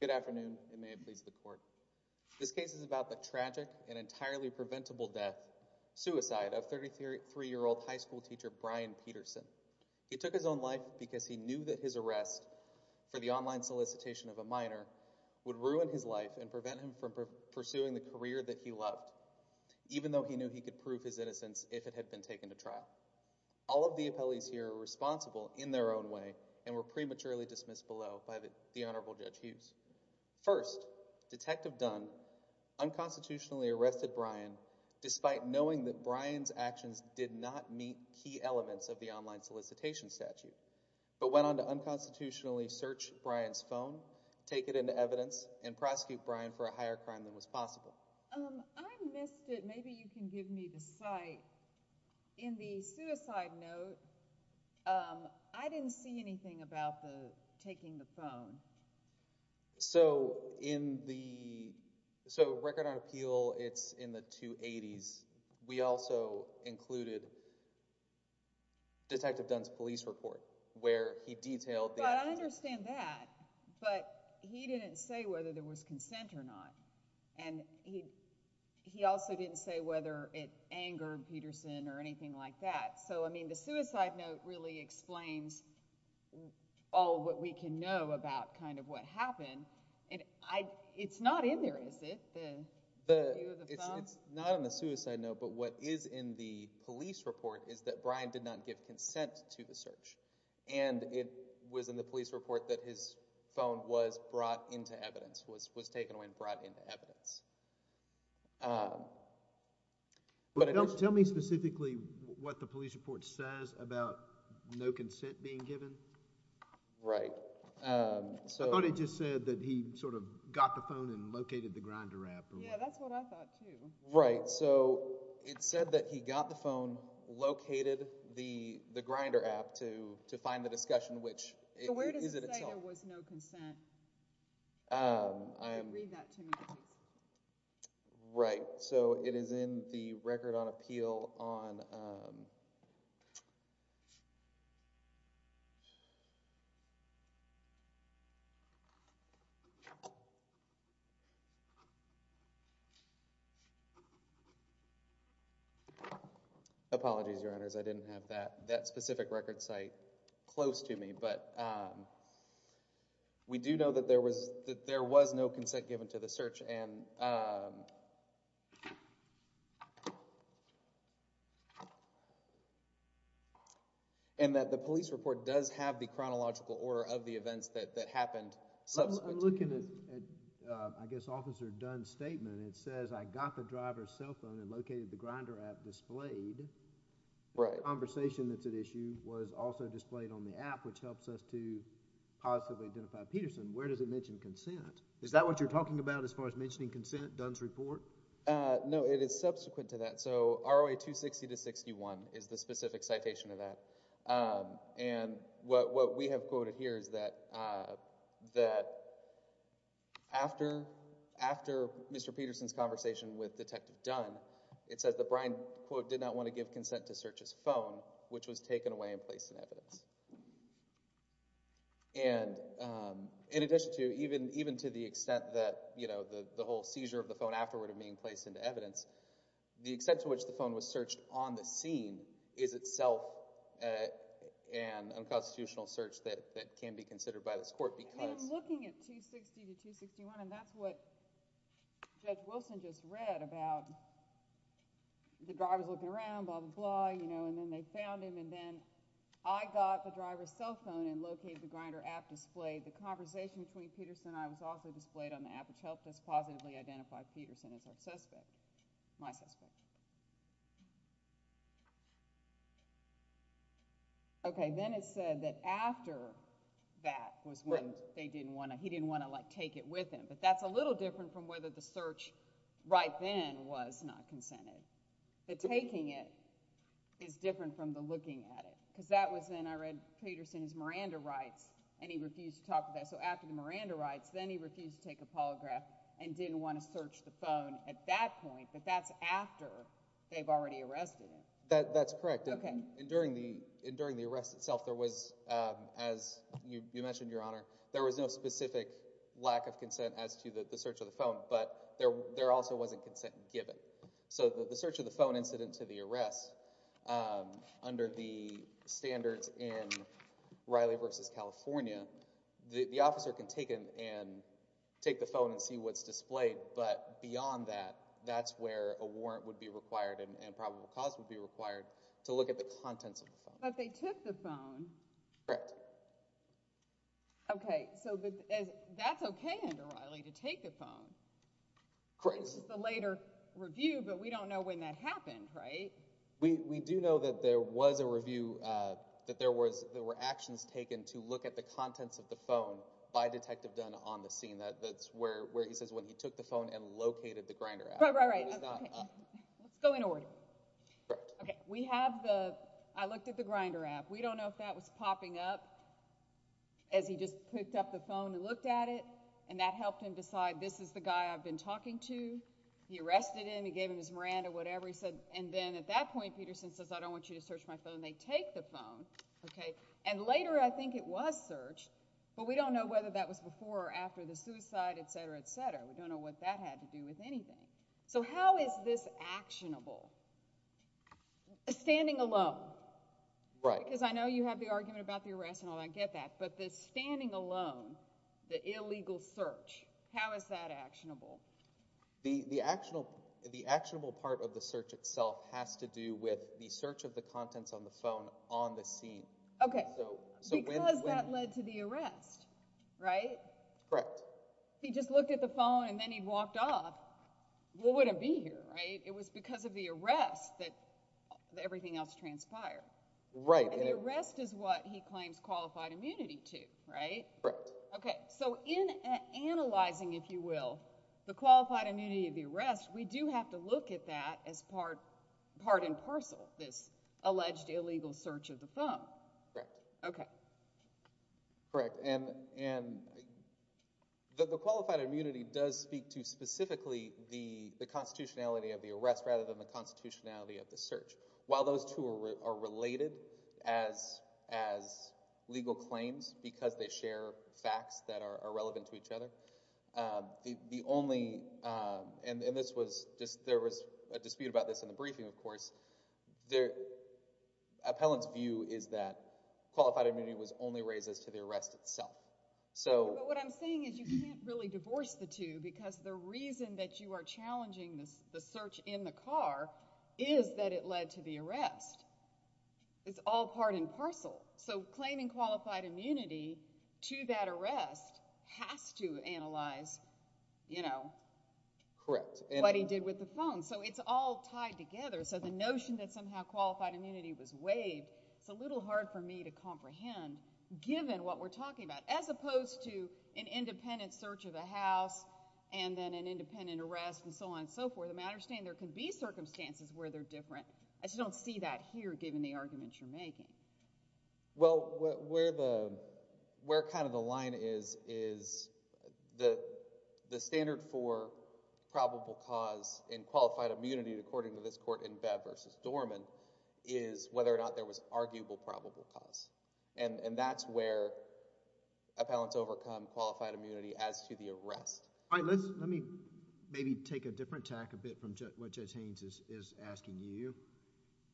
Good afternoon, and may it please the court. This case is about the tragic and entirely preventable death, suicide, of 33-year-old high school teacher Brian Peterson. He took his own life because he knew that his arrest for the online solicitation of a minor would ruin his life and prevent him from pursuing the career that he loved, even though he knew he could prove his innocence if it had been taken to trial. All of the appellees here are responsible in their own way and were prematurely dismissed below by the Honorable Judge Hughes. First, Detective Dunn unconstitutionally arrested Brian despite knowing that Brian's actions did not meet key elements of the online solicitation statute, but went on to unconstitutionally search Brian's phone, take it into evidence, and prosecute Brian for a higher crime than was possible. Well, I missed it, maybe you can give me the site. In the suicide note, I didn't see anything about the taking the phone. So in the, so record on appeal, it's in the 280s. We also included Detective Dunn's police report where he detailed the actions. I understand that, but he didn't say whether there was consent or not. And he also didn't say whether it angered Peterson or anything like that. So I mean, the suicide note really explains all that we can know about kind of what happened. It's not in there, is it? It's not in the suicide note, but what is in the police report is that Brian did not give consent to the search. And it was in the police report that his phone was brought into evidence, was taken away and brought into evidence. But it was... Tell me specifically what the police report says about no consent being given. Right. I thought it just said that he sort of got the phone and located the Grindr app. Yeah, that's what I thought too. Right. So it said that he got the phone, located the Grindr app to find the discussion, which is it itself. So where does it say there was no consent? Read that to me, please. Right. So it is in the record on appeal on... Apologies, Your Honors. I didn't have that specific record site close to me, but we do know that there was no consent given to the search and that the police report does have the chronological order of the events that happened. I'm looking at, I guess, Officer Dunn's statement. It says, I got the driver's cell phone and located the Grindr app displayed. Right. The conversation that's at issue was also displayed on the app, which helps us to possibly identify Peterson. Where does it mention consent? Is that what you're talking about as far as mentioning consent, Dunn's report? No, it is subsequent to that. So ROA 260-61 is the specific citation of that. And what we have quoted here is that after Mr. Peterson's conversation with Detective Dunn, it says that Brian, quote, did not want to give consent to search his phone, which was taken away and placed in evidence. And in addition to, even to the extent that, you know, the whole seizure of the phone afterward of being placed into evidence, the extent to which the phone was searched on the scene is itself an unconstitutional search that can be considered by this court because And I'm looking at 260-261 and that's what Judge Wilson just read about the driver's looking around, blah, blah, blah, you know, and then they found him and then I got the driver's cell phone and located the Grindr app displayed. The conversation between Peterson and I was also displayed on the app, which helped us positively identify Peterson as our suspect, my suspect. Okay, then it said that after that was when they didn't want to, he didn't want to like take it with him, but that's a little different from whether the search right then was not consented. The taking it is different from the looking at it because that was then I read Peterson's Miranda rights and he refused to talk about it. So after the Miranda rights, then he refused to take a polygraph and didn't want to search the phone at that point, but that's after they've already arrested him. That, that's correct. Okay. And during the, and during the arrest itself, there was, um, as you mentioned your honor, there was no specific lack of consent as to the search of the phone, but there, there also wasn't consent given. So the, the search of the phone incident to the arrest, um, under the standards in Riley versus California, the officer can take it and take the phone and see what's displayed. But beyond that, that's where a warrant would be required and probable cause would be required to look at the contents of the phone. But they took the phone. Correct. Okay. So that's okay under Riley to take the phone. Correct. It's the later review, but we don't know when that happened, right? We do know that there was a review, uh, that there was, there were actions taken to look at the contents of the phone by detective Dunn on the scene. That, that's where, where he says when he took the phone and located the Grindr app. Right, right, right. Okay. Let's go in order. Correct. Okay. We have the, I looked at the Grindr app. We don't know if that was popping up as he just picked up the phone and looked at it and that helped him decide this is the guy I've been talking to. He arrested him. He gave him his Miranda, whatever he said. And then at that point, Peterson says, I don't want you to search my phone. They take the phone. Okay. And later, I think it was searched, but we don't know whether that was before or after the suicide, et cetera, et cetera. We don't know what that had to do with anything. So how is this actionable? Standing alone. Right. Because I know you have the argument about the arrest and all that. I get that. But the standing alone, the illegal search, how is that actionable? The, the actionable, the actionable part of the search itself has to do with the search of the contents on the phone on the scene. Okay. Because that led to the arrest, right? Correct. He just looked at the phone and then he walked off. What would it be here, right? It was because of the arrest that everything else transpired. Right. And the arrest is what he claims qualified immunity to, right? Correct. Okay. So in analyzing, if you will, the qualified immunity of the arrest, we do have to look at that as part, part and parcel, this alleged illegal search of the phone. Correct. Okay. Correct. And, and the, the qualified immunity does speak to specifically the, the constitutionality of the arrest rather than the constitutionality of the search. While those two are, are related as, as legal claims because they share facts that are, are relevant to each other. The, the only, and, and this was just, there was a dispute about this in the briefing, of course. The appellant's view is that qualified immunity was only raised as to the arrest itself. So. But what I'm saying is you can't really divorce the two because the reason that you are challenging the search in the car is that it led to the arrest. It's all part and parcel. So claiming qualified immunity to that arrest has to analyze, you know. Correct. What he did with the phone. So it's all tied together. So the notion that somehow qualified immunity was waived, it's a little hard for me to comprehend given what we're talking about. As opposed to an independent search of the house and then an independent arrest and so on and so forth. I understand there can be circumstances where they're different. Well, where the, where kind of the line is, is the, the standard for probable cause in qualified immunity according to this court in Bev versus Dorman is whether or not there was arguable probable cause. And, and that's where appellants overcome qualified immunity as to the arrest. All right. Let's, let me maybe take a different tack a bit from what Judge Haynes is, is asking you.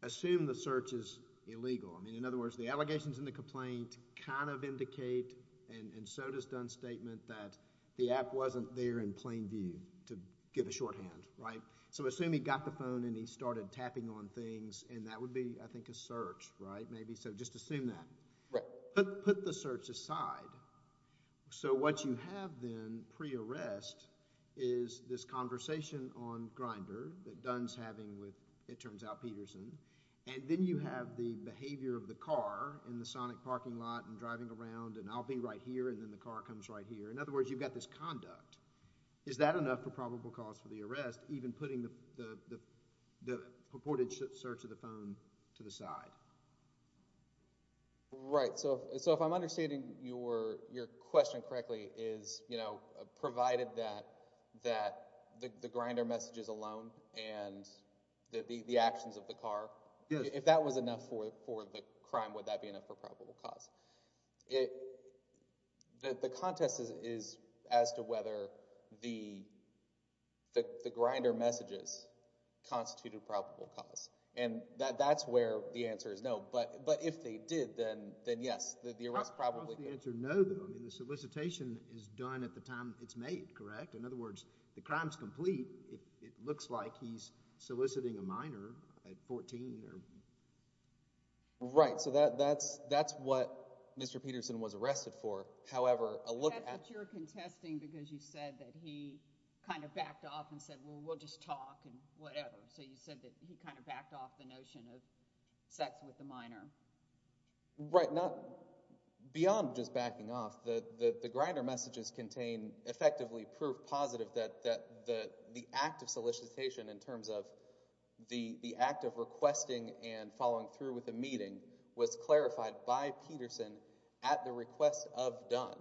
Assume the search is illegal. I mean, in other words, the allegations in the complaint kind of indicate and, and so does Dunn's statement that the app wasn't there in plain view to give a shorthand. Right? So assume he got the phone and he started tapping on things and that would be, I think, a search. Right? Maybe. So just assume that. Right. Put, put the search aside. So what you have then pre-arrest is this conversation on Grindr that Dunn's having with, it turns out, Peterson. And then you have the behavior of the car in the sonic parking lot and driving around and I'll be right here and then the car comes right here. In other words, you've got this conduct. Is that enough for probable cause for the arrest, even putting the, the, the purported search of the phone to the side? Right. So, so if I'm understanding your, your question correctly is, you know, provided that, that the, the Grindr messages alone and the, the, the actions of the car. Yes. If that was enough for, for the crime, would that be enough for probable cause? It, the, the contest is, is as to whether the, the, the Grindr messages constituted probable cause. And that, that's where the answer is no. But, but if they did, then, then yes, the, the arrest probably. How could the answer no though? I mean, the solicitation is done at the time it's made, correct? In other words, the crime's complete. It, it looks like he's soliciting a minor at 14 or... Right. So that, that's, that's what Mr. Peterson was arrested for. However, a look at... But that's what you're contesting because you said that he kind of backed off and said, well, we'll just talk and whatever. So you said that he kind of backed off the notion of sex with the minor. Right. Not, beyond just backing off, the, the, the Grindr messages contain effectively proof positive that, that the, the act of solicitation in terms of the, the act of requesting and following through with a meeting was clarified by Peterson at the request of Dunn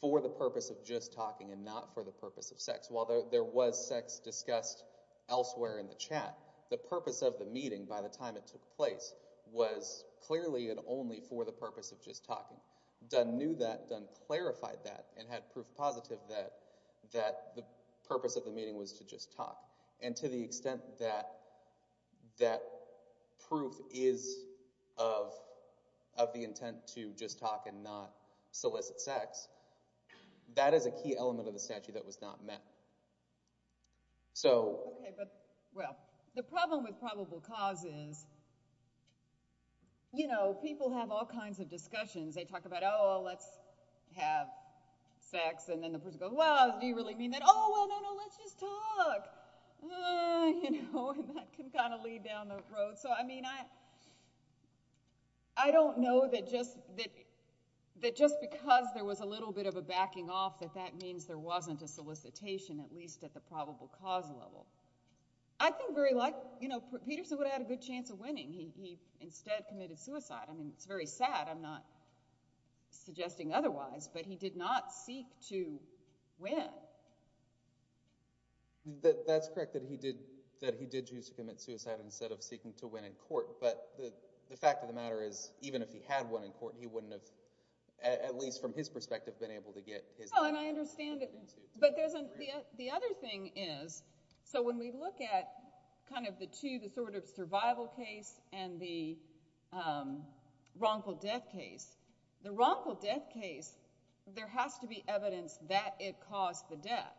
for the purpose of just talking and not for the purpose of sex. While there was sex discussed elsewhere in the chat, the purpose of the meeting by the time it took place was clearly and only for the purpose of just talking. Dunn knew that, Dunn clarified that and had proof positive that, that the purpose of the meeting was to just talk. And to the extent that, that proof is of, of the intent to just talk and not solicit sex, that is a key element of the statute that was not met. So... Okay, but, well, the problem with probable cause is, you know, people have all kinds of discussions. They talk about, oh, let's have sex. And then the person goes, well, do you really mean that? Oh, well, no, no, let's just talk. You know, and that can kind of lead down the road. So, I mean, I, I don't know that just, that, that just because there was a little bit of a backing off that that means there wasn't a solicitation at least at the probable cause level. I think where he liked, you know, Peterson would have had a good chance of winning. He, he instead committed suicide. I mean, it's very sad, I'm not suggesting otherwise, but he did not seek to win. That, that's correct that he did, that he did choose to commit suicide instead of seeking to win in court. But the, the fact of the matter is, even if he had won in court, he wouldn't have, at least from his perspective, been able to get his... No, and I understand it. But there's a, the other thing is, so when we look at kind of the two, the sort of survival case and the wrongful death case, the wrongful death case, there has to be evidence that it caused the death.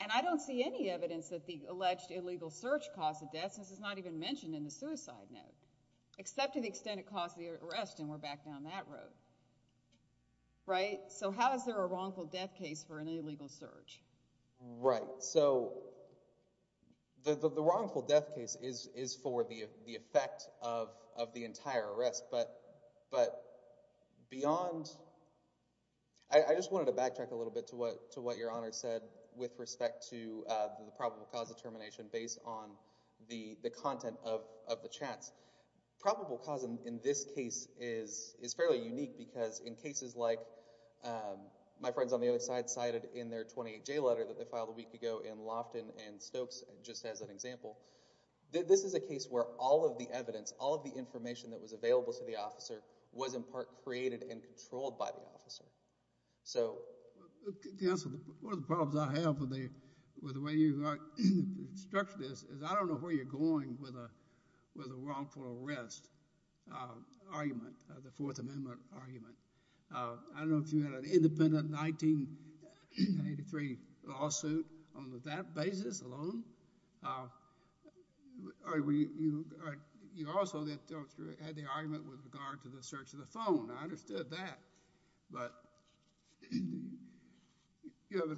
And I don't see any evidence that the alleged illegal search caused the death, since it's not even mentioned in the suicide note, except to the extent it caused the arrest, and we're back down that road. Right? So how is there a wrongful death case for an illegal search? Right. So the, the wrongful death case is, is for the effect of, of the entire arrest. But, but beyond... I just wanted to backtrack a little bit to what, to what Your Honor said with respect to the probable cause determination based on the, the content of, of the chats. Probable cause in this case is, is fairly unique because in cases like, my friends on the other side cited in their 28J letter that they filed a week ago in Lofton and Stokes, just as an example, this is a case where all of the evidence, all of the information that was available to the officer was in part created and controlled by the officer. So... Counsel, one of the problems I have with the, with the way you structured this is I don't know where you're going with a, with a wrongful arrest argument. The Fourth Amendment argument. I don't know if you had an independent 1983 lawsuit on that basis alone. Or were you, you also had the argument with regard to the search of the phone. I understood that. But... You know,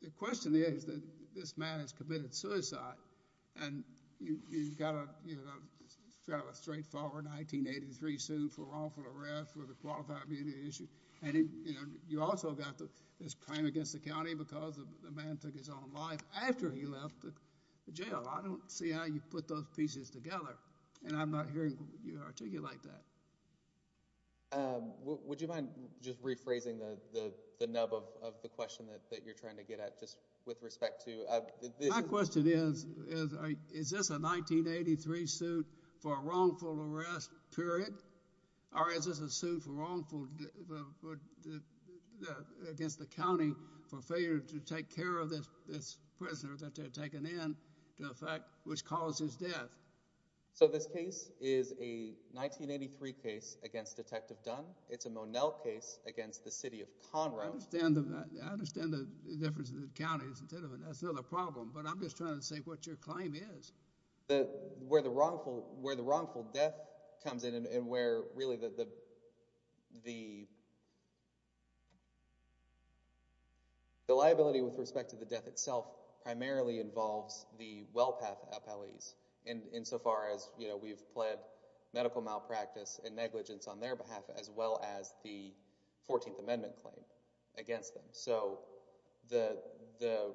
the question is that this man has committed suicide and you, you've got a, you know, fairly straightforward 1983 suit for wrongful arrest with a qualified immunity issue. And, you know, you also got this claim against the county because the man took his own life after he left the jail. I don't see how you put those pieces together. And I'm not hearing you articulate that. Um, would you mind just rephrasing the, the nub of the question that you're trying to get at just with respect to... My question is, is this a 1983 suit for a wrongful arrest, period? Or is this a suit for wrongful... against the county for failure to take care of this, this prisoner that they had taken in to effect, which caused his death? So this case is a 1983 case against Detective Dunn. It's a Monell case against the city of Conrail. I understand the, I understand the difference in the counties, that's another problem. But I'm just trying to see what your claim is. The, where the wrongful, where the wrongful death comes in and where really the, the... The liability with respect to the death itself primarily involves the WellPath appellees insofar as, you know, we've pled medical malpractice and negligence on their behalf as well as the 14th Amendment claim against them. So the, the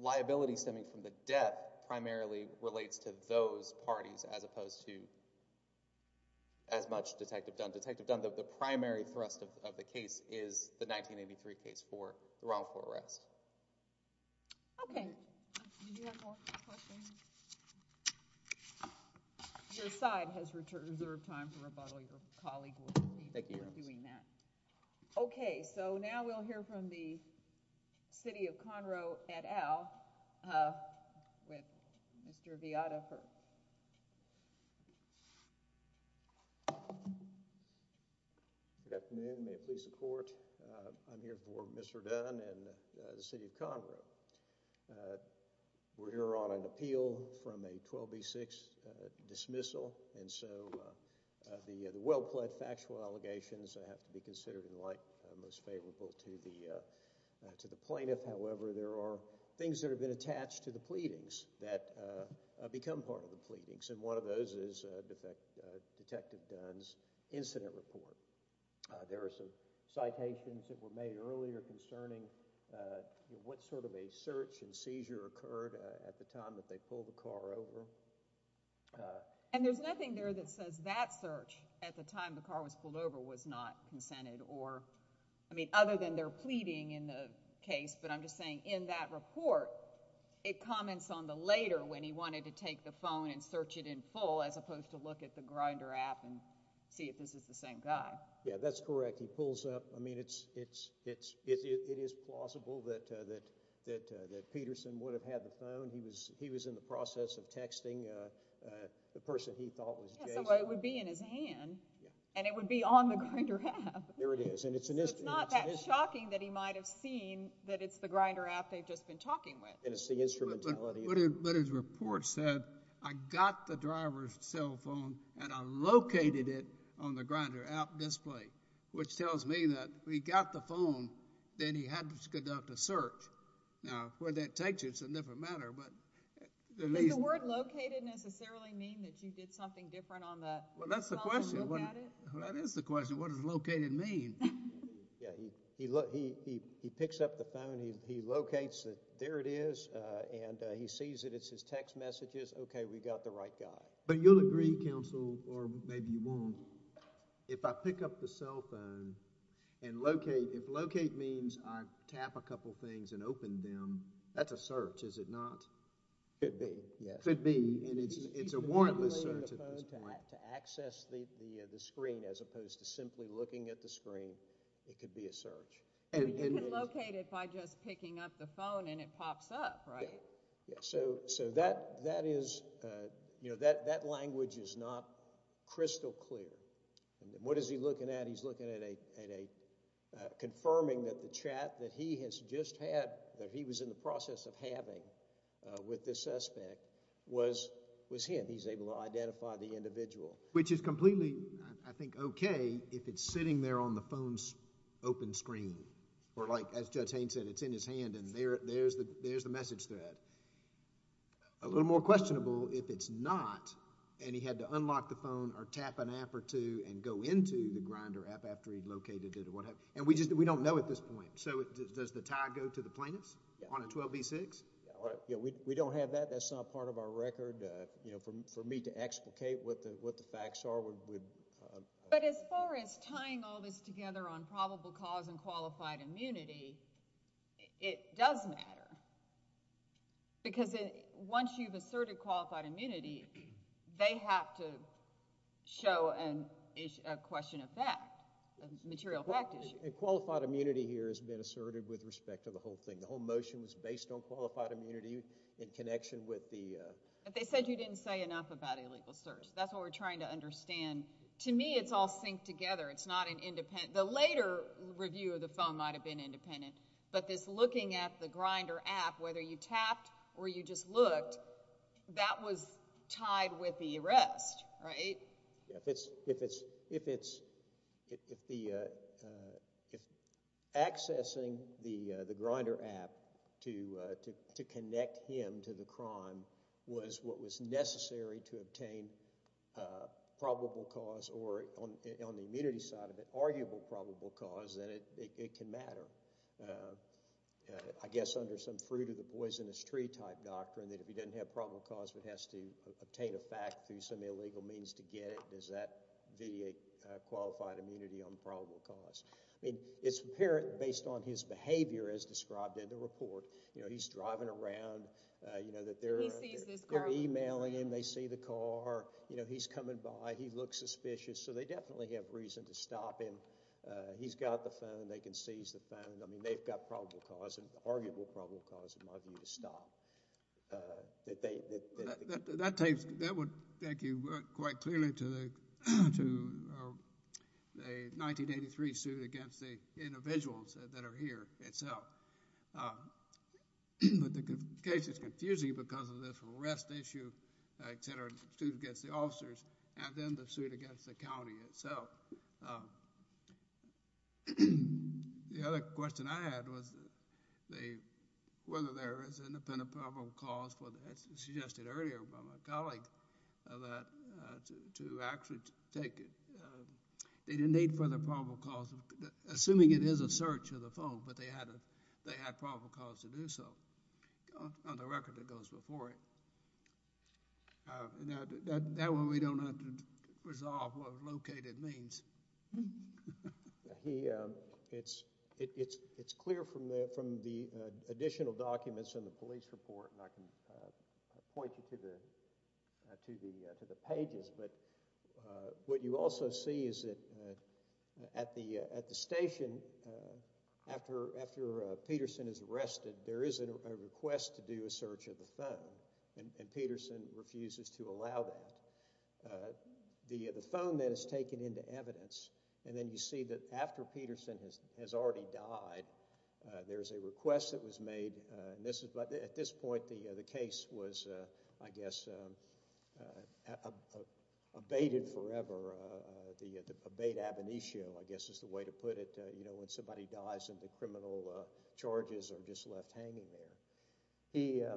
liability stemming from the death primarily relates to those parties as opposed to as much Detective Dunn. Detective Dunn, the primary thrust of the case is the 1983 case for the wrongful arrest. Okay. Do you have more questions? Your side has reserved time for rebuttal. Your colleague will be doing that. Thank you. Okay, so now we'll hear from the city of Conrail et al. with Mr. Viata. Good afternoon, may it please the court. I'm here for Mr. Dunn and the city of Conrail. We're here on an appeal from a 12B6 dismissal and so the WellPath factual allegations have to be considered in light, most favorable to the plaintiff. However, there are things that have been attached to the pleadings that become part of the pleadings and one of those is Detective Dunn's incident report. There are some citations that were made earlier concerning what sort of a search and seizure occurred at the time that they pulled the car over. And there's nothing there that says that search at the time the car was pulled over was not consented or, I mean, other than their pleading in the case, but I'm just saying in that report, it comments on the later when he wanted to take the phone and search it in full as opposed to look at the Grindr app and see if this is the same guy. Yeah, that's correct. He pulls up. I mean, it is plausible that Peterson would have had the phone. He was in the process of texting the person he thought was Jason. Yeah, so it would be in his hand and it would be on the Grindr app. There it is. So it's not that shocking that he might have seen that it's the Grindr app they've just been talking with. And it's the instrumentality. But his report said, I got the driver's cell phone and I located it on the Grindr app display, which tells me that he got the phone, then he had to conduct a search. Now, where that takes you is a different matter, but... Does the word located necessarily mean that you did something different on the... Well, that's the question. Well, that is the question. What does located mean? Yeah, he picks up the phone. He locates it. There it is. And he sees it. It's his text messages. Okay, we got the right guy. But you'll agree, counsel, or maybe you won't, if I pick up the cell phone and locate... If locate means I tap a couple things and open them, that's a search, is it not? Could be, yes. Could be. And it's a warrantless search at this point. To access the screen as opposed to simply looking at the screen could be a search. You can locate it by just picking up the phone and it pops up, right? Yeah, so that is... You know, that language is not crystal clear. What is he looking at? He's looking at a... Confirming that the chat that he has just had, that he was in the process of having with the suspect, was him. He's able to identify the individual. Which is completely, I think, okay if it's sitting there on the phone's open screen. Or like, as Judge Haynes said, it's in his hand and there's the message thread. A little more questionable if it's not and he had to unlock the phone or tap an app or two and go into the Grindr app after he'd located it. And we don't know at this point. So does the tie go to the plaintiffs on a 12b6? We don't have that. That's not part of our record. For me to explicate what the facts are would... But as far as tying all this together on probable cause and qualified immunity, it does matter. Because once you've asserted qualified immunity, they have to show a question of fact, a material fact issue. Qualified immunity here has been asserted with respect to the whole thing. The whole motion was based on qualified immunity in connection with the... They said you didn't say enough about illegal search. That's what we're trying to understand. To me, it's all synced together. It's not an independent... The later review of the phone might have been independent. But this looking at the Grindr app, whether you tapped or you just looked, that was tied with the arrest, right? Yeah, if it's... If it's... If the, uh... If accessing the Grindr app to connect him to the crime was what was necessary to obtain probable cause or, on the immunity side of it, arguable probable cause, then it can matter. I guess under some fruit-of-the-poisonous-tree type doctrine that if he doesn't have probable cause, but has to obtain a fact through some illegal means to get it, does that vitiate qualified immunity on probable cause? I mean, it's apparent based on his behavior as described in the report. You know, he's driving around, you know, that they're emailing him, they see the car, you know, he's coming by, he looks suspicious, so they definitely have reason to stop him. He's got the phone, they can seize the phone. I mean, they've got probable cause, arguable probable cause, in my view, to stop. Uh, that they... That takes... That would take you quite clearly to the 1983 suit against the individuals that are here itself. Um... But the case is confusing because of this arrest issue, et cetera, suit against the officers, and then the suit against the county itself. Um... The other question I had was whether there is independent probable cause as suggested earlier by my colleague that to actually take it. They didn't need further probable cause, assuming it is a search of the phone, but they had probable cause to do so on the record that goes before it. Uh, that way we don't have to resolve what located means. He, um... It's clear from the additional documents in the police report, and I can point you to the pages, but what you also see is that at the station, after Peterson is arrested, there is a request to do a search of the phone, and Peterson refuses to allow that. Uh, the phone that is taken into evidence, and then you see that after Peterson has already died, there's a request that was made, and this is... At this point, the case was, I guess, abated forever. The abate ab initio, I guess, is the way to put it. You know, when somebody dies and the criminal charges are just left hanging there. He, uh...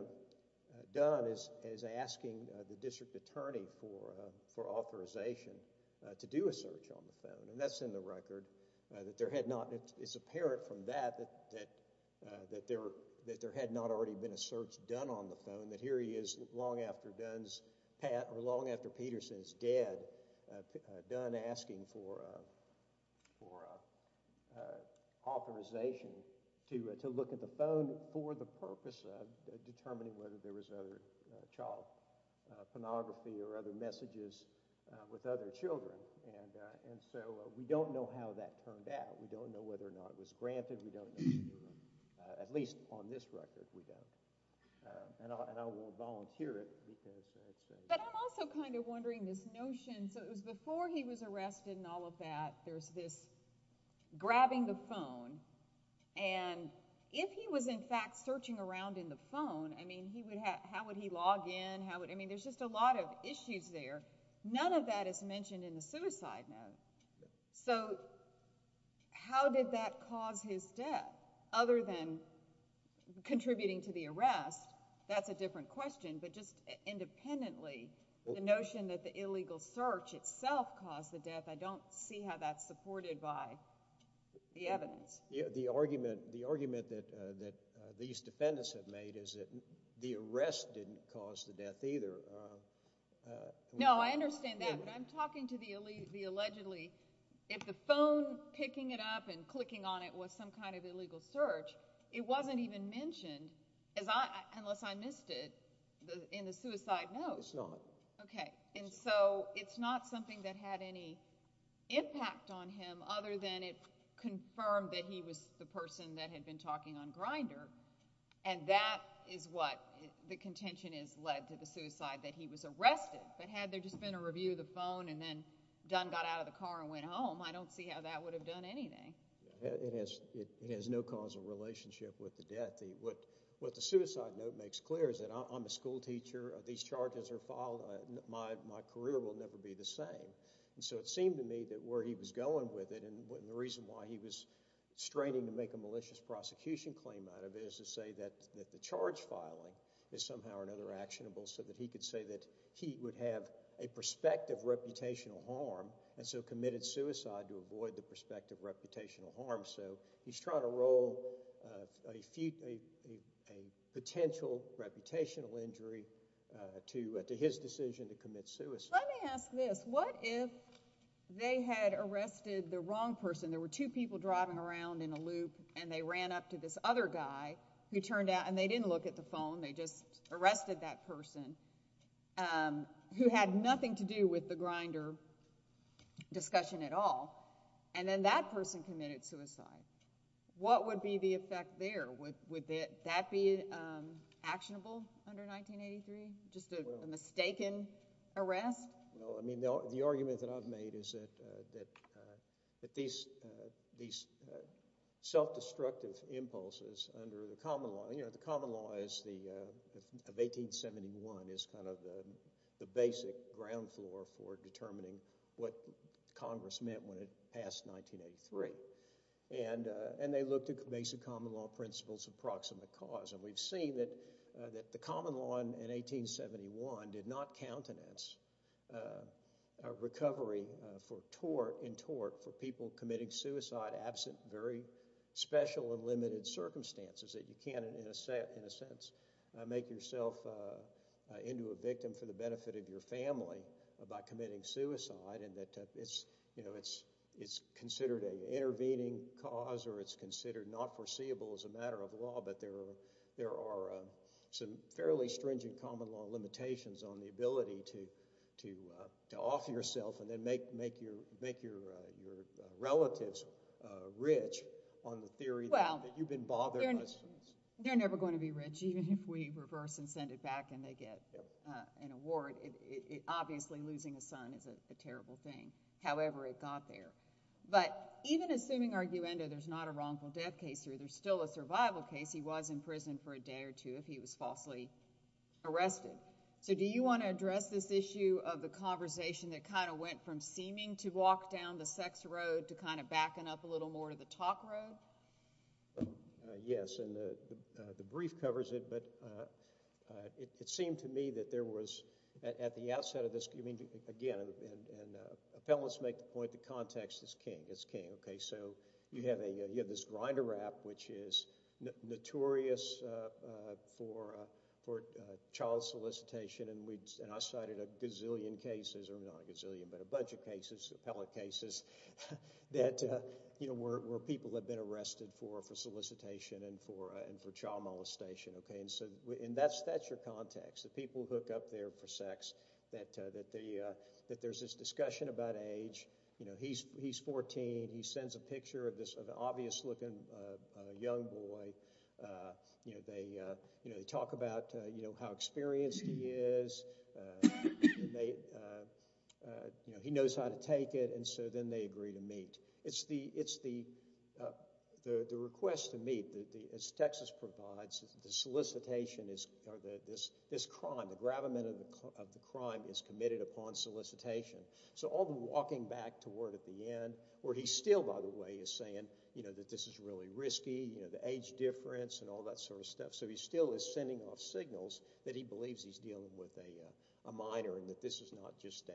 Dunn is asking the district attorney for authorization to do a search on the phone, and that's in the record, that there had not... It's apparent from that that there had not already been a search done on the phone, that here he is long after Dunn's... Or long after Peterson's dead, Dunn asking for authorization to look at the phone for the purpose of determining whether there was other child pornography or other messages with other children, and so we don't know how that turned out. We don't know whether or not it was granted. We don't know... At least on this record, we don't. And I will volunteer it, because... But I'm also kind of wondering this notion... So it was before he was arrested and all of that, there's this grabbing the phone, and if he was in fact searching around in the phone, I mean, he would have... How would he log in? How would... I mean, there's just a lot of issues there. None of that is mentioned in the suicide note. So how did that cause his death, other than contributing to the arrest? That's a different question, but just independently, the notion that the illegal search itself caused the death, I don't see how that's supported by the evidence. The argument that these defendants have made is that the arrest didn't cause the death either. No, I understand that, but I'm talking to the allegedly... If the phone, picking it up and clicking on it was some kind of illegal search, it wasn't even mentioned, unless I missed it, in the suicide note. It's not. Okay, and so it's not something that had any impact on him, other than it confirmed that he was the person that had been talking on Grindr, and that is what the contention has led to the suicide, that he was arrested. But had there just been a review of the phone and then Dunn got out of the car and went home, I don't see how that would have done anything. It has no causal relationship with the death. What the suicide note makes clear is that I'm a schoolteacher, these charges are filed, my career will never be the same. And so it seemed to me that where he was going with it and the reason why he was straining to make a malicious prosecution claim out of it is to say that the charge filing is somehow or another actionable so that he could say that he would have a prospect of reputational harm and so committed suicide to avoid the prospect of reputational harm. So he's trying to roll a potential reputational injury to his decision to commit suicide. Let me ask this. What if they had arrested the wrong person? There were two people driving around in a loop and they ran up to this other guy who turned out and they didn't look at the phone, they just arrested that person who had nothing to do with the Grindr discussion at all. And then that person committed suicide. What would be the effect there? Would that be actionable under 1983, just a mistaken arrest? Well, I mean, the argument that I've made is that these self-destructive impulses under the common law... You know, the common law of 1871 is kind of the basic ground floor for determining what Congress meant when it passed 1983. And they looked at basic common law principles of proximate cause, and we've seen that the common law in 1871 did not countenance a recovery in tort for people committing suicide absent very special and limited circumstances, that you can't, in a sense, make yourself into a victim for the benefit of your family by committing suicide, and that it's, you know, it's considered an intervening cause or it's considered not foreseeable as a matter of law, but there are some fairly stringent common law limitations on the ability to off yourself and then make your relatives rich on the theory that you've been bothered by suicide. Well, they're never going to be rich even if we reverse and send it back and they get an award. Obviously losing a son is a terrible thing, however it got there. But even assuming arguendo there's not a wrongful death case or there's still a survival case, he was in prison for a day or two if he was falsely arrested. So do you want to address this issue of the conversation that kind of went from seeming to walk down the sex road to kind of backing up a little more to the talk road? Yes, and the brief covers it, but it seemed to me that there was at the outset of this, again, and appellants make the point that context is king, so you have this grinder app which is notorious child solicitation and I cited a gazillion cases or not a gazillion, but a bunch of cases appellate cases where people have been arrested for solicitation and for child molestation and that's your context that people hook up there for sex that there's this discussion about age he's 14, he sends a picture of this obvious looking young boy they talk about how experienced he is he knows how to take it and so then they agree to meet it's the request to meet as Texas provides this crime the gravamen of the crime is committed upon solicitation so all the walking back toward at the end where he's still by the way is saying that this is really risky the age difference and all that sort of stuff so he's still sending off signals that he believes he's dealing with a minor and that this is not just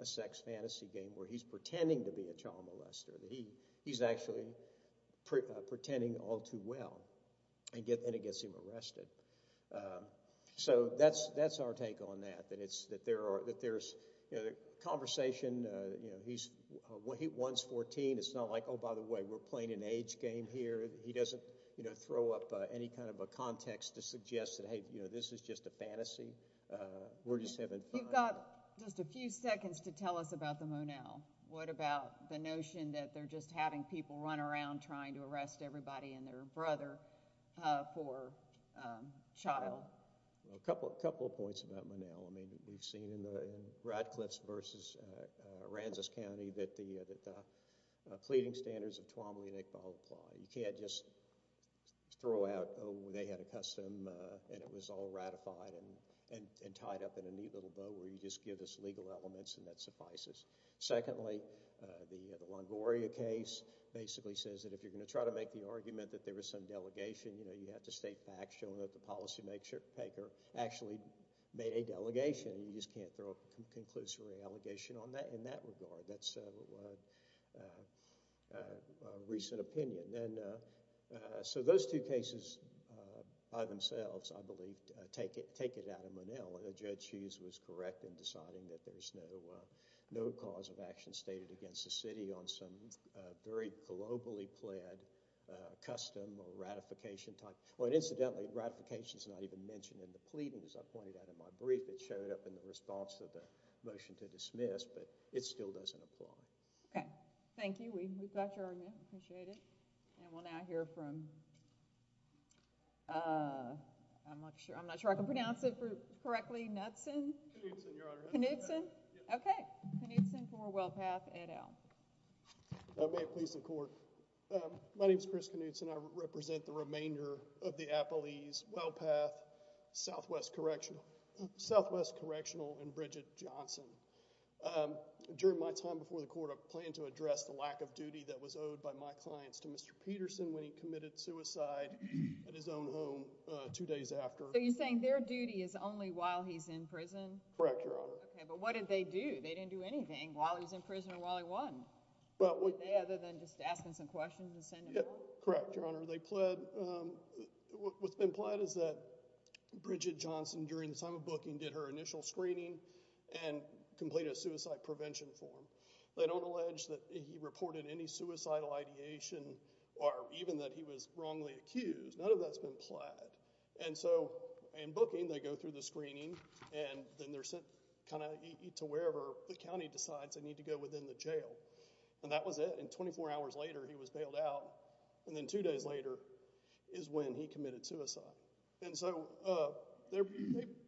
a sex fantasy game where he's pretending to be a child molester he's actually pretending all too well and it gets him arrested so that's our take on that that there's conversation once 14 it's not like oh by the way we're playing an age game here he doesn't throw up any kind of a context to suggest that hey this is just a fantasy we're just having fun You've got just a few seconds to tell us about the Monell what about the notion that they're just having people run around trying to arrest everybody and their brother for child A couple of points about Monell we've seen in the Radcliffe's versus Aransas County that the pleading standards of Tuamali and Iqbal apply you can't just throw out oh they had a custom and it was all ratified and tied up in a neat little bow where you just give us legal elements and that suffices secondly the Longoria case basically says that if you're going to try to make the argument that there was some delegation you have to state facts showing that the policy maker actually made a delegation you just can't throw a conclusory allegation on that in that regard that's a recent opinion so those two cases by themselves I believe take it out of Monell Judge Hughes was correct in deciding that there's no cause of action stated against the city on some very globally pled custom or ratification type incidentally ratification's not even mentioned in the pleading as I pointed out in my brief it showed up in the response to the motion to dismiss but it still doesn't apply Thank you we've got your argument and we'll now hear from I'm not sure I'm not sure I can pronounce it correctly Knudson Knudson for WellPath Ed Owell My name's Chris Knudson I represent the remainder of the Appalese WellPath Southwest Correctional Southwest Correctional and Bridget Johnson during my time before the court I planned to address the lack of duty that was owed by my clients to Mr. Peterson when he committed suicide at his own home two days after So you're saying their duty is only while he's in prison Correct Your Honor But what did they do? They didn't do anything while he was in prison or while he won Other than just asking some questions and sending them home Correct Your Honor What's been pled is that Bridget Johnson during the time of booking did her initial screening and completed a suicide prevention form They don't allege that he or even that he was wrongly accused. None of that's been pled and so in booking they go through the screening and then they're sent kind of to wherever the county decides they need to go within the jail and that was it and 24 hours later he was bailed out and then two days later is when he committed suicide and so they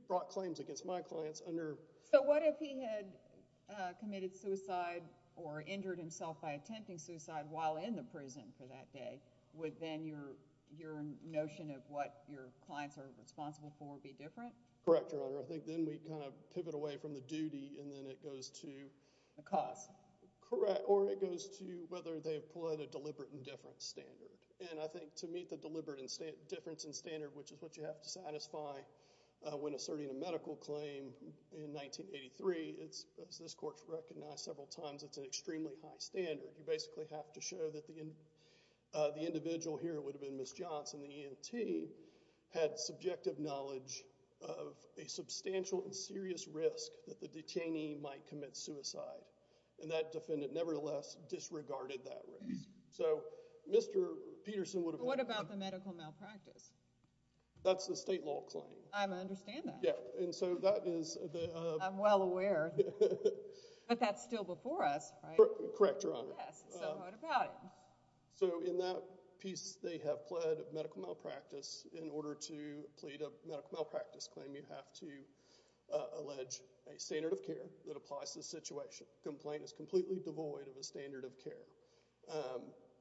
brought claims against my clients under So what if he had committed suicide or injured himself by that day, would then your notion of what your clients are responsible for be different? Correct Your Honor. I think then we kind of pivot away from the duty and then it goes to The cause Correct. Or it goes to whether they have pled a deliberate indifference standard and I think to meet the deliberate indifference and standard which is what you have to satisfy when asserting a medical claim in 1983 as this court has recognized several times it's an extremely high standard you basically have to show that the individual here would have been Ms. Johnson, the ENT had subjective knowledge of a substantial and serious risk that the detainee might commit suicide and that defendant never the less disregarded that risk so Mr. Peterson What about the medical malpractice? That's the state law claim. I understand that. I'm well aware but that's still before us. Correct Your Honor So what about it? So in that piece they have pled medical malpractice in order to plead a medical malpractice claim you have to allege a standard of care that applies to the situation. The complaint is completely devoid of a standard of care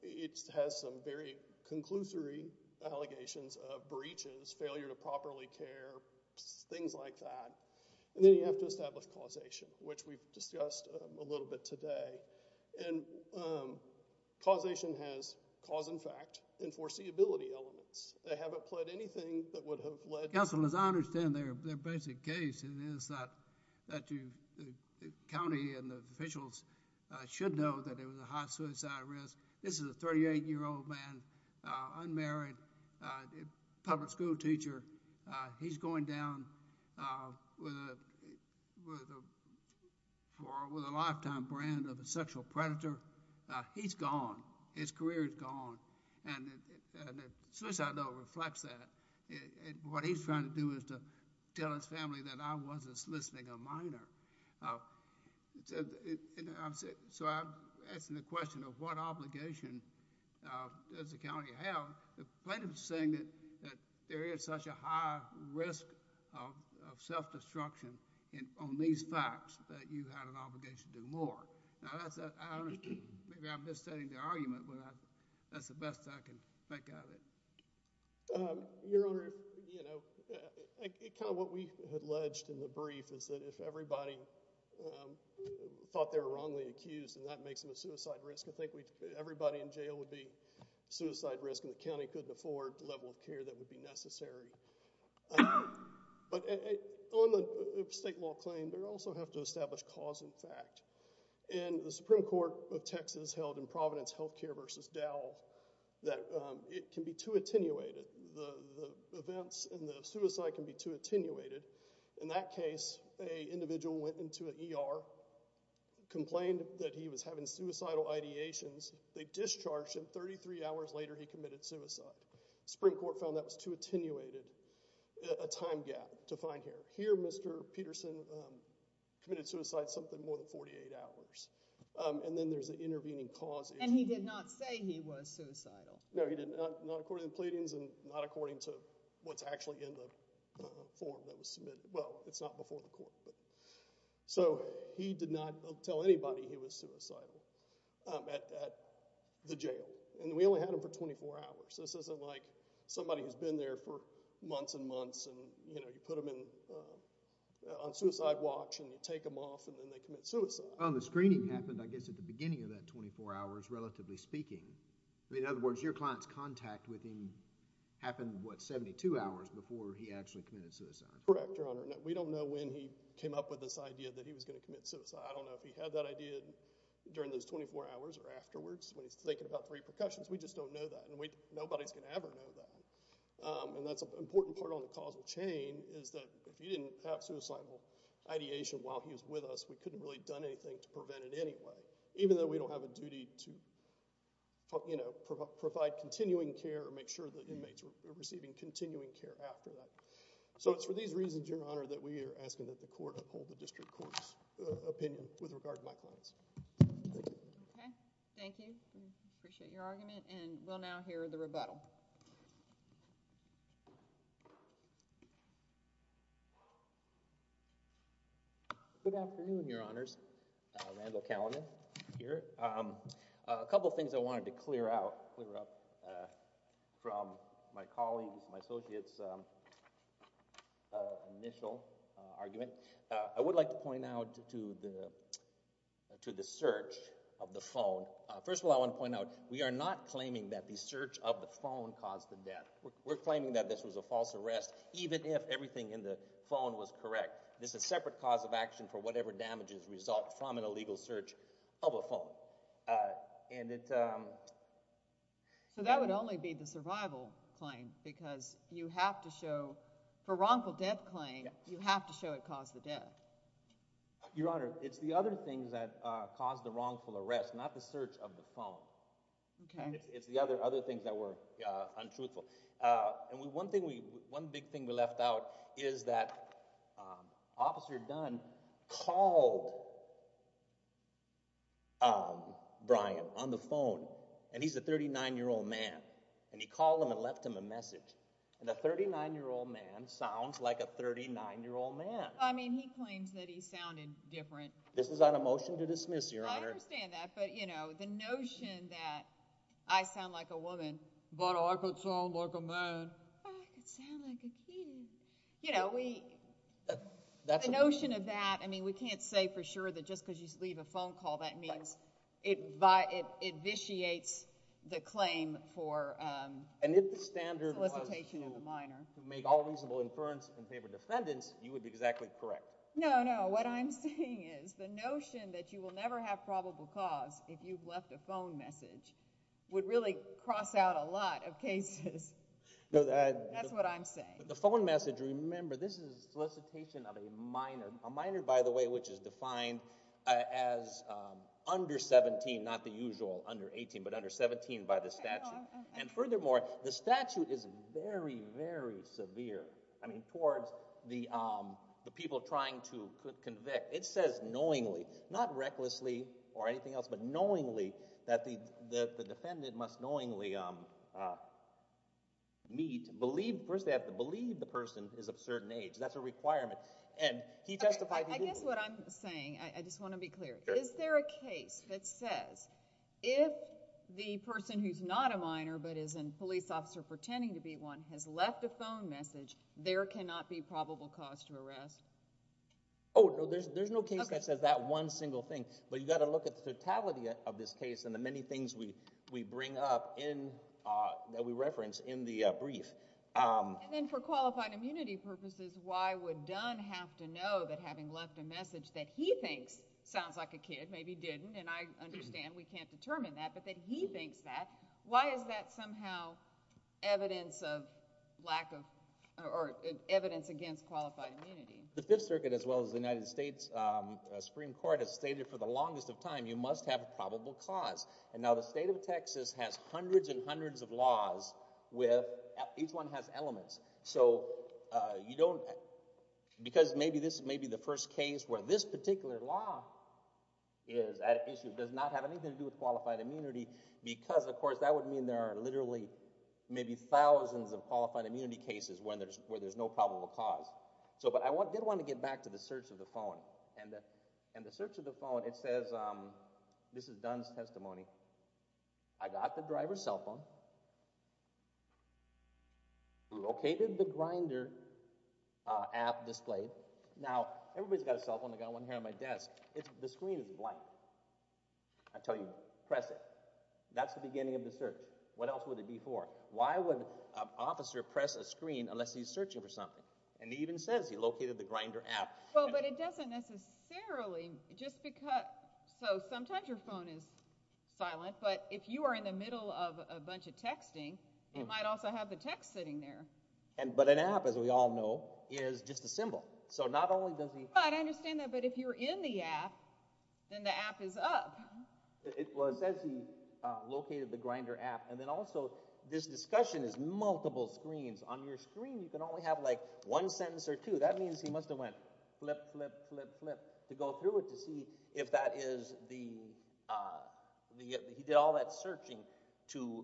It has some very conclusory allegations of breaches, failure to properly care, things like that and then you have to establish causation which we've discussed a little bit today causation has cause and fact and foreseeability elements. They haven't pled anything that would have led to Counselors, I understand their basic case that the county and the officials should know that it was a high suicide risk this is a 38 year old man unmarried public school teacher he's going down with a lifetime brand of a sexual predator. He's gone his career is gone and suicide though reflects that. What he's trying to do is to tell his family that I was a soliciting a minor So I'm asking the question of what obligation does the county have? The complaint is saying that there is such a high risk of self destruction on these facts that you have an obligation to do more. Maybe I'm just stating the argument but that's the best I can make out of it. Your Honor kind of what we had alleged in the brief is that if everybody thought they were wrongly accused and that makes them a suicide risk I think everybody in jail would be suicide risk and the county couldn't afford the level of care that would be necessary but on the state law claim they also have to establish cause and fact and the Supreme Court of Texas held in Providence Health Care versus Dow that it can be too attenuated the events and the suicide can be too attenuated. In that case an individual went into an ER, complained that he was having suicidal ideations they discharged him. 33 hours later he committed suicide. Supreme Court found that was too attenuated a time gap to find here. Here Mr. Peterson committed suicide something more than 48 hours and then there's an intervening cause issue. And he did not say he was suicidal. No he did not according to the pleadings and not according to what's actually in the form that was submitted. Well it's not before the court. So he did not tell anybody he was suicidal at the jail. And we only had him for 24 hours. This isn't like somebody who's been there for months and months and you know you put him in on suicide watch and you take him off and then they commit suicide. Well the screening happened I guess at the beginning of that 24 hours relatively speaking. In other words your client's contact with him happened what 72 hours before he actually committed suicide. Correct Your Honor. We don't know when he came up with this idea that he was gonna commit suicide. I don't know if he had that idea during those 24 hours or afterwards when he's thinking about the repercussions. We just don't know that and nobody's gonna ever know that. And that's an important part on the causal chain is that if he didn't have suicidal ideation while he was with us we couldn't really done anything to prevent it anyway. Even though we don't have a duty to you know provide continuing care or make sure that inmates were receiving continuing care after that. So it's for these reasons Your Honor that we are asking that the court uphold the district court's opinion with regard to my clients. Okay. Thank you. We appreciate your argument and we'll now hear the rebuttal. Good afternoon Your Honors. Randall Callinan here. A couple things I wanted to clear out clear up from my colleagues, my associates initial argument. I would like to point out to the search of the phone. First of all I want to point out we are not claiming that the search of the phone caused the death. We're claiming that this was a false arrest even if everything in the phone was correct. This is a separate cause of action for whatever damages result from an illegal search of a phone. And it So that would only be the survival claim because you have to show for wrongful death claim, you have to show it caused the death. Your Honor, it's the other things that caused the wrongful arrest, not the search of the phone. Okay. It's the other things that were untruthful. And one thing we left out is that Officer Dunn called and he's a 39 year old man and he called him and left him a message. And a 39 year old man sounds like a 39 year old man. I mean he claims that he sounded different. This is not a motion to dismiss your Honor. I understand that but you know the notion that I sound like a woman. But I could sound like a man. I could sound like a kid. You know we the notion of that I mean we can't say for sure that just because you leave a phone call that means it vitiates the claim for solicitation of a minor. And if the standard was to make all reasonable inference and favor defendants, you would be exactly correct. No, no. What I'm saying is the notion that you will never have probable cause if you've left a phone message would really cross out a lot of cases. That's what I'm saying. The phone message, remember this is solicitation of a minor. A minor, by the way, which is defined as under 17 not the usual under 18 but under 17 by the statute. And furthermore, the statute is very, very severe. I mean towards the people trying to convict. It says knowingly, not recklessly or anything else, but knowingly that the defendant must knowingly meet, first they have to believe the person is of certain age. That's a requirement. I guess what I'm saying, I just want to be clear. Is there a case that says if the person who's not a minor but is a police officer pretending to be one has left a phone message there cannot be probable cause to arrest? Oh, no. There's no case that says that one single thing. But you've got to look at the totality of this case and the many things we bring up in, that we reference in the brief. And then for qualified immunity purposes why would Dunn have to know that having left a message that he thinks sounds like a kid, maybe didn't and I understand we can't determine that but that he thinks that, why is that somehow evidence of lack of or evidence against qualified immunity? The Fifth Circuit as well as the United States Supreme Court has stated for the longest of time you must have a probable cause. And now the state of Texas has hundreds and hundreds of laws with, each one has elements so you don't because maybe this is maybe the first case where this particular law is at issue does not have anything to do with qualified immunity because of course that would mean there are literally maybe thousands of qualified immunity cases where there's no probable cause. But I did want to get back to the search of the phone and the search of the phone it says, this is Dunn's testimony, I got the driver's cell phone located the Grindr app displayed now everybody's got a cell phone, I've got one here on my desk the screen is blank until you press it that's the beginning of the search what else would it be for? Why would an officer press a screen unless he's searching for something? And he even says he located the Grindr app. Well but it doesn't necessarily, just because so sometimes your phone is silent but if you are in the middle of a bunch of texting it might also have the text sitting there but an app as we all know is just a symbol I understand that but if you're in the app then the app is up it says he located the Grindr app and then also this discussion is multiple screens, on your screen you can only have like one sentence or two that means he must have went flip, flip, flip to go through it to see if that is the he did all that searching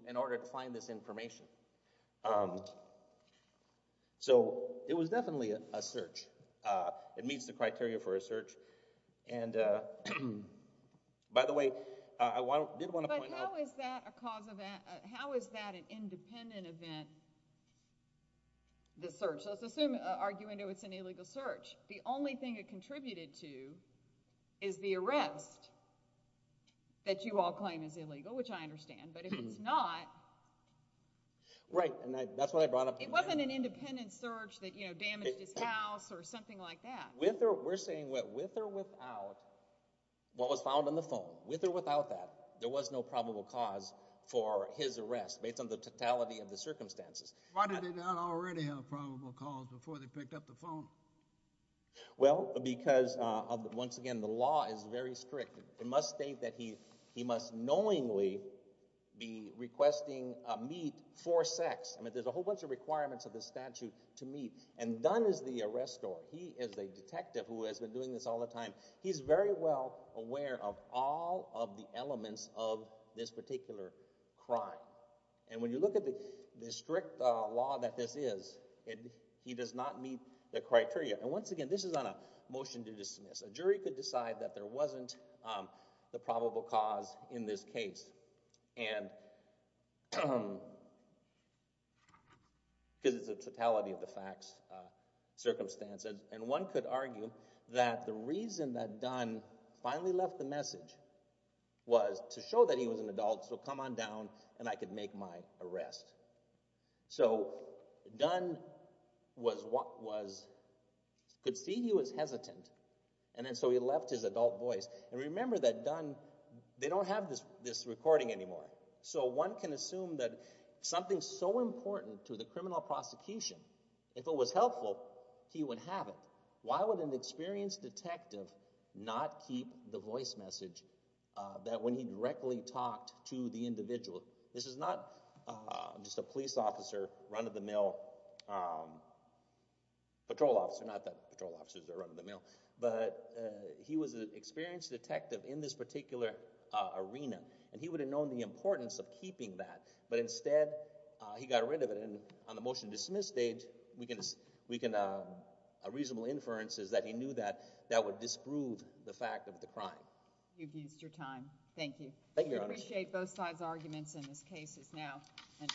in order to find this information um so it was definitely a search, it meets the criteria for a search and uh by the way, I did want to point out But how is that a cause of how is that an independent event the search let's assume, arguing though it's an illegal search the only thing it contributed to is the arrest that you all claim is illegal, which I understand but if it's not right and that's what I brought up it wasn't an independent search that you know damaged his house or something like that with or without what was found on the phone with or without that there was no probable cause for his arrest based on the totality of the circumstances why did they not already have probable cause before they picked up the phone well because once again the law is very strict, it must state that he must knowingly be requesting a meet for sex, I mean there's a whole bunch of requirements of the statute to meet and Dunn is the arrestor, he is the detective who has been doing this all the time he's very well aware of all of the elements of this particular crime and when you look at the strict law that this is he does not meet the criteria and once again this is not a motion to dismiss, a jury could decide that there wasn't the probable cause in this case and because it's a totality of the facts circumstances and one could argue that the reason that Dunn finally left the message was to show that he was an adult so come on down and I could make my arrest so Dunn was could see he was hesitant and so he left his adult voice and remember that Dunn they don't have this recording anymore so one can assume that something so important to the criminal prosecution, if it was helpful, he would have it why would an experienced detective not keep the voice message that when he directly talked to the individual this is not just a police officer, run of the mill patrol officer not that patrol officers are run of the mill but he was an experienced detective in this particular arena and he would have known the importance of keeping that but instead he got rid of it and on the motion to dismiss stage we can a reasonable inference is that he knew that that would disprove the fact of the crime you've used your time, thank you appreciate both sides arguments in this case is now under discussion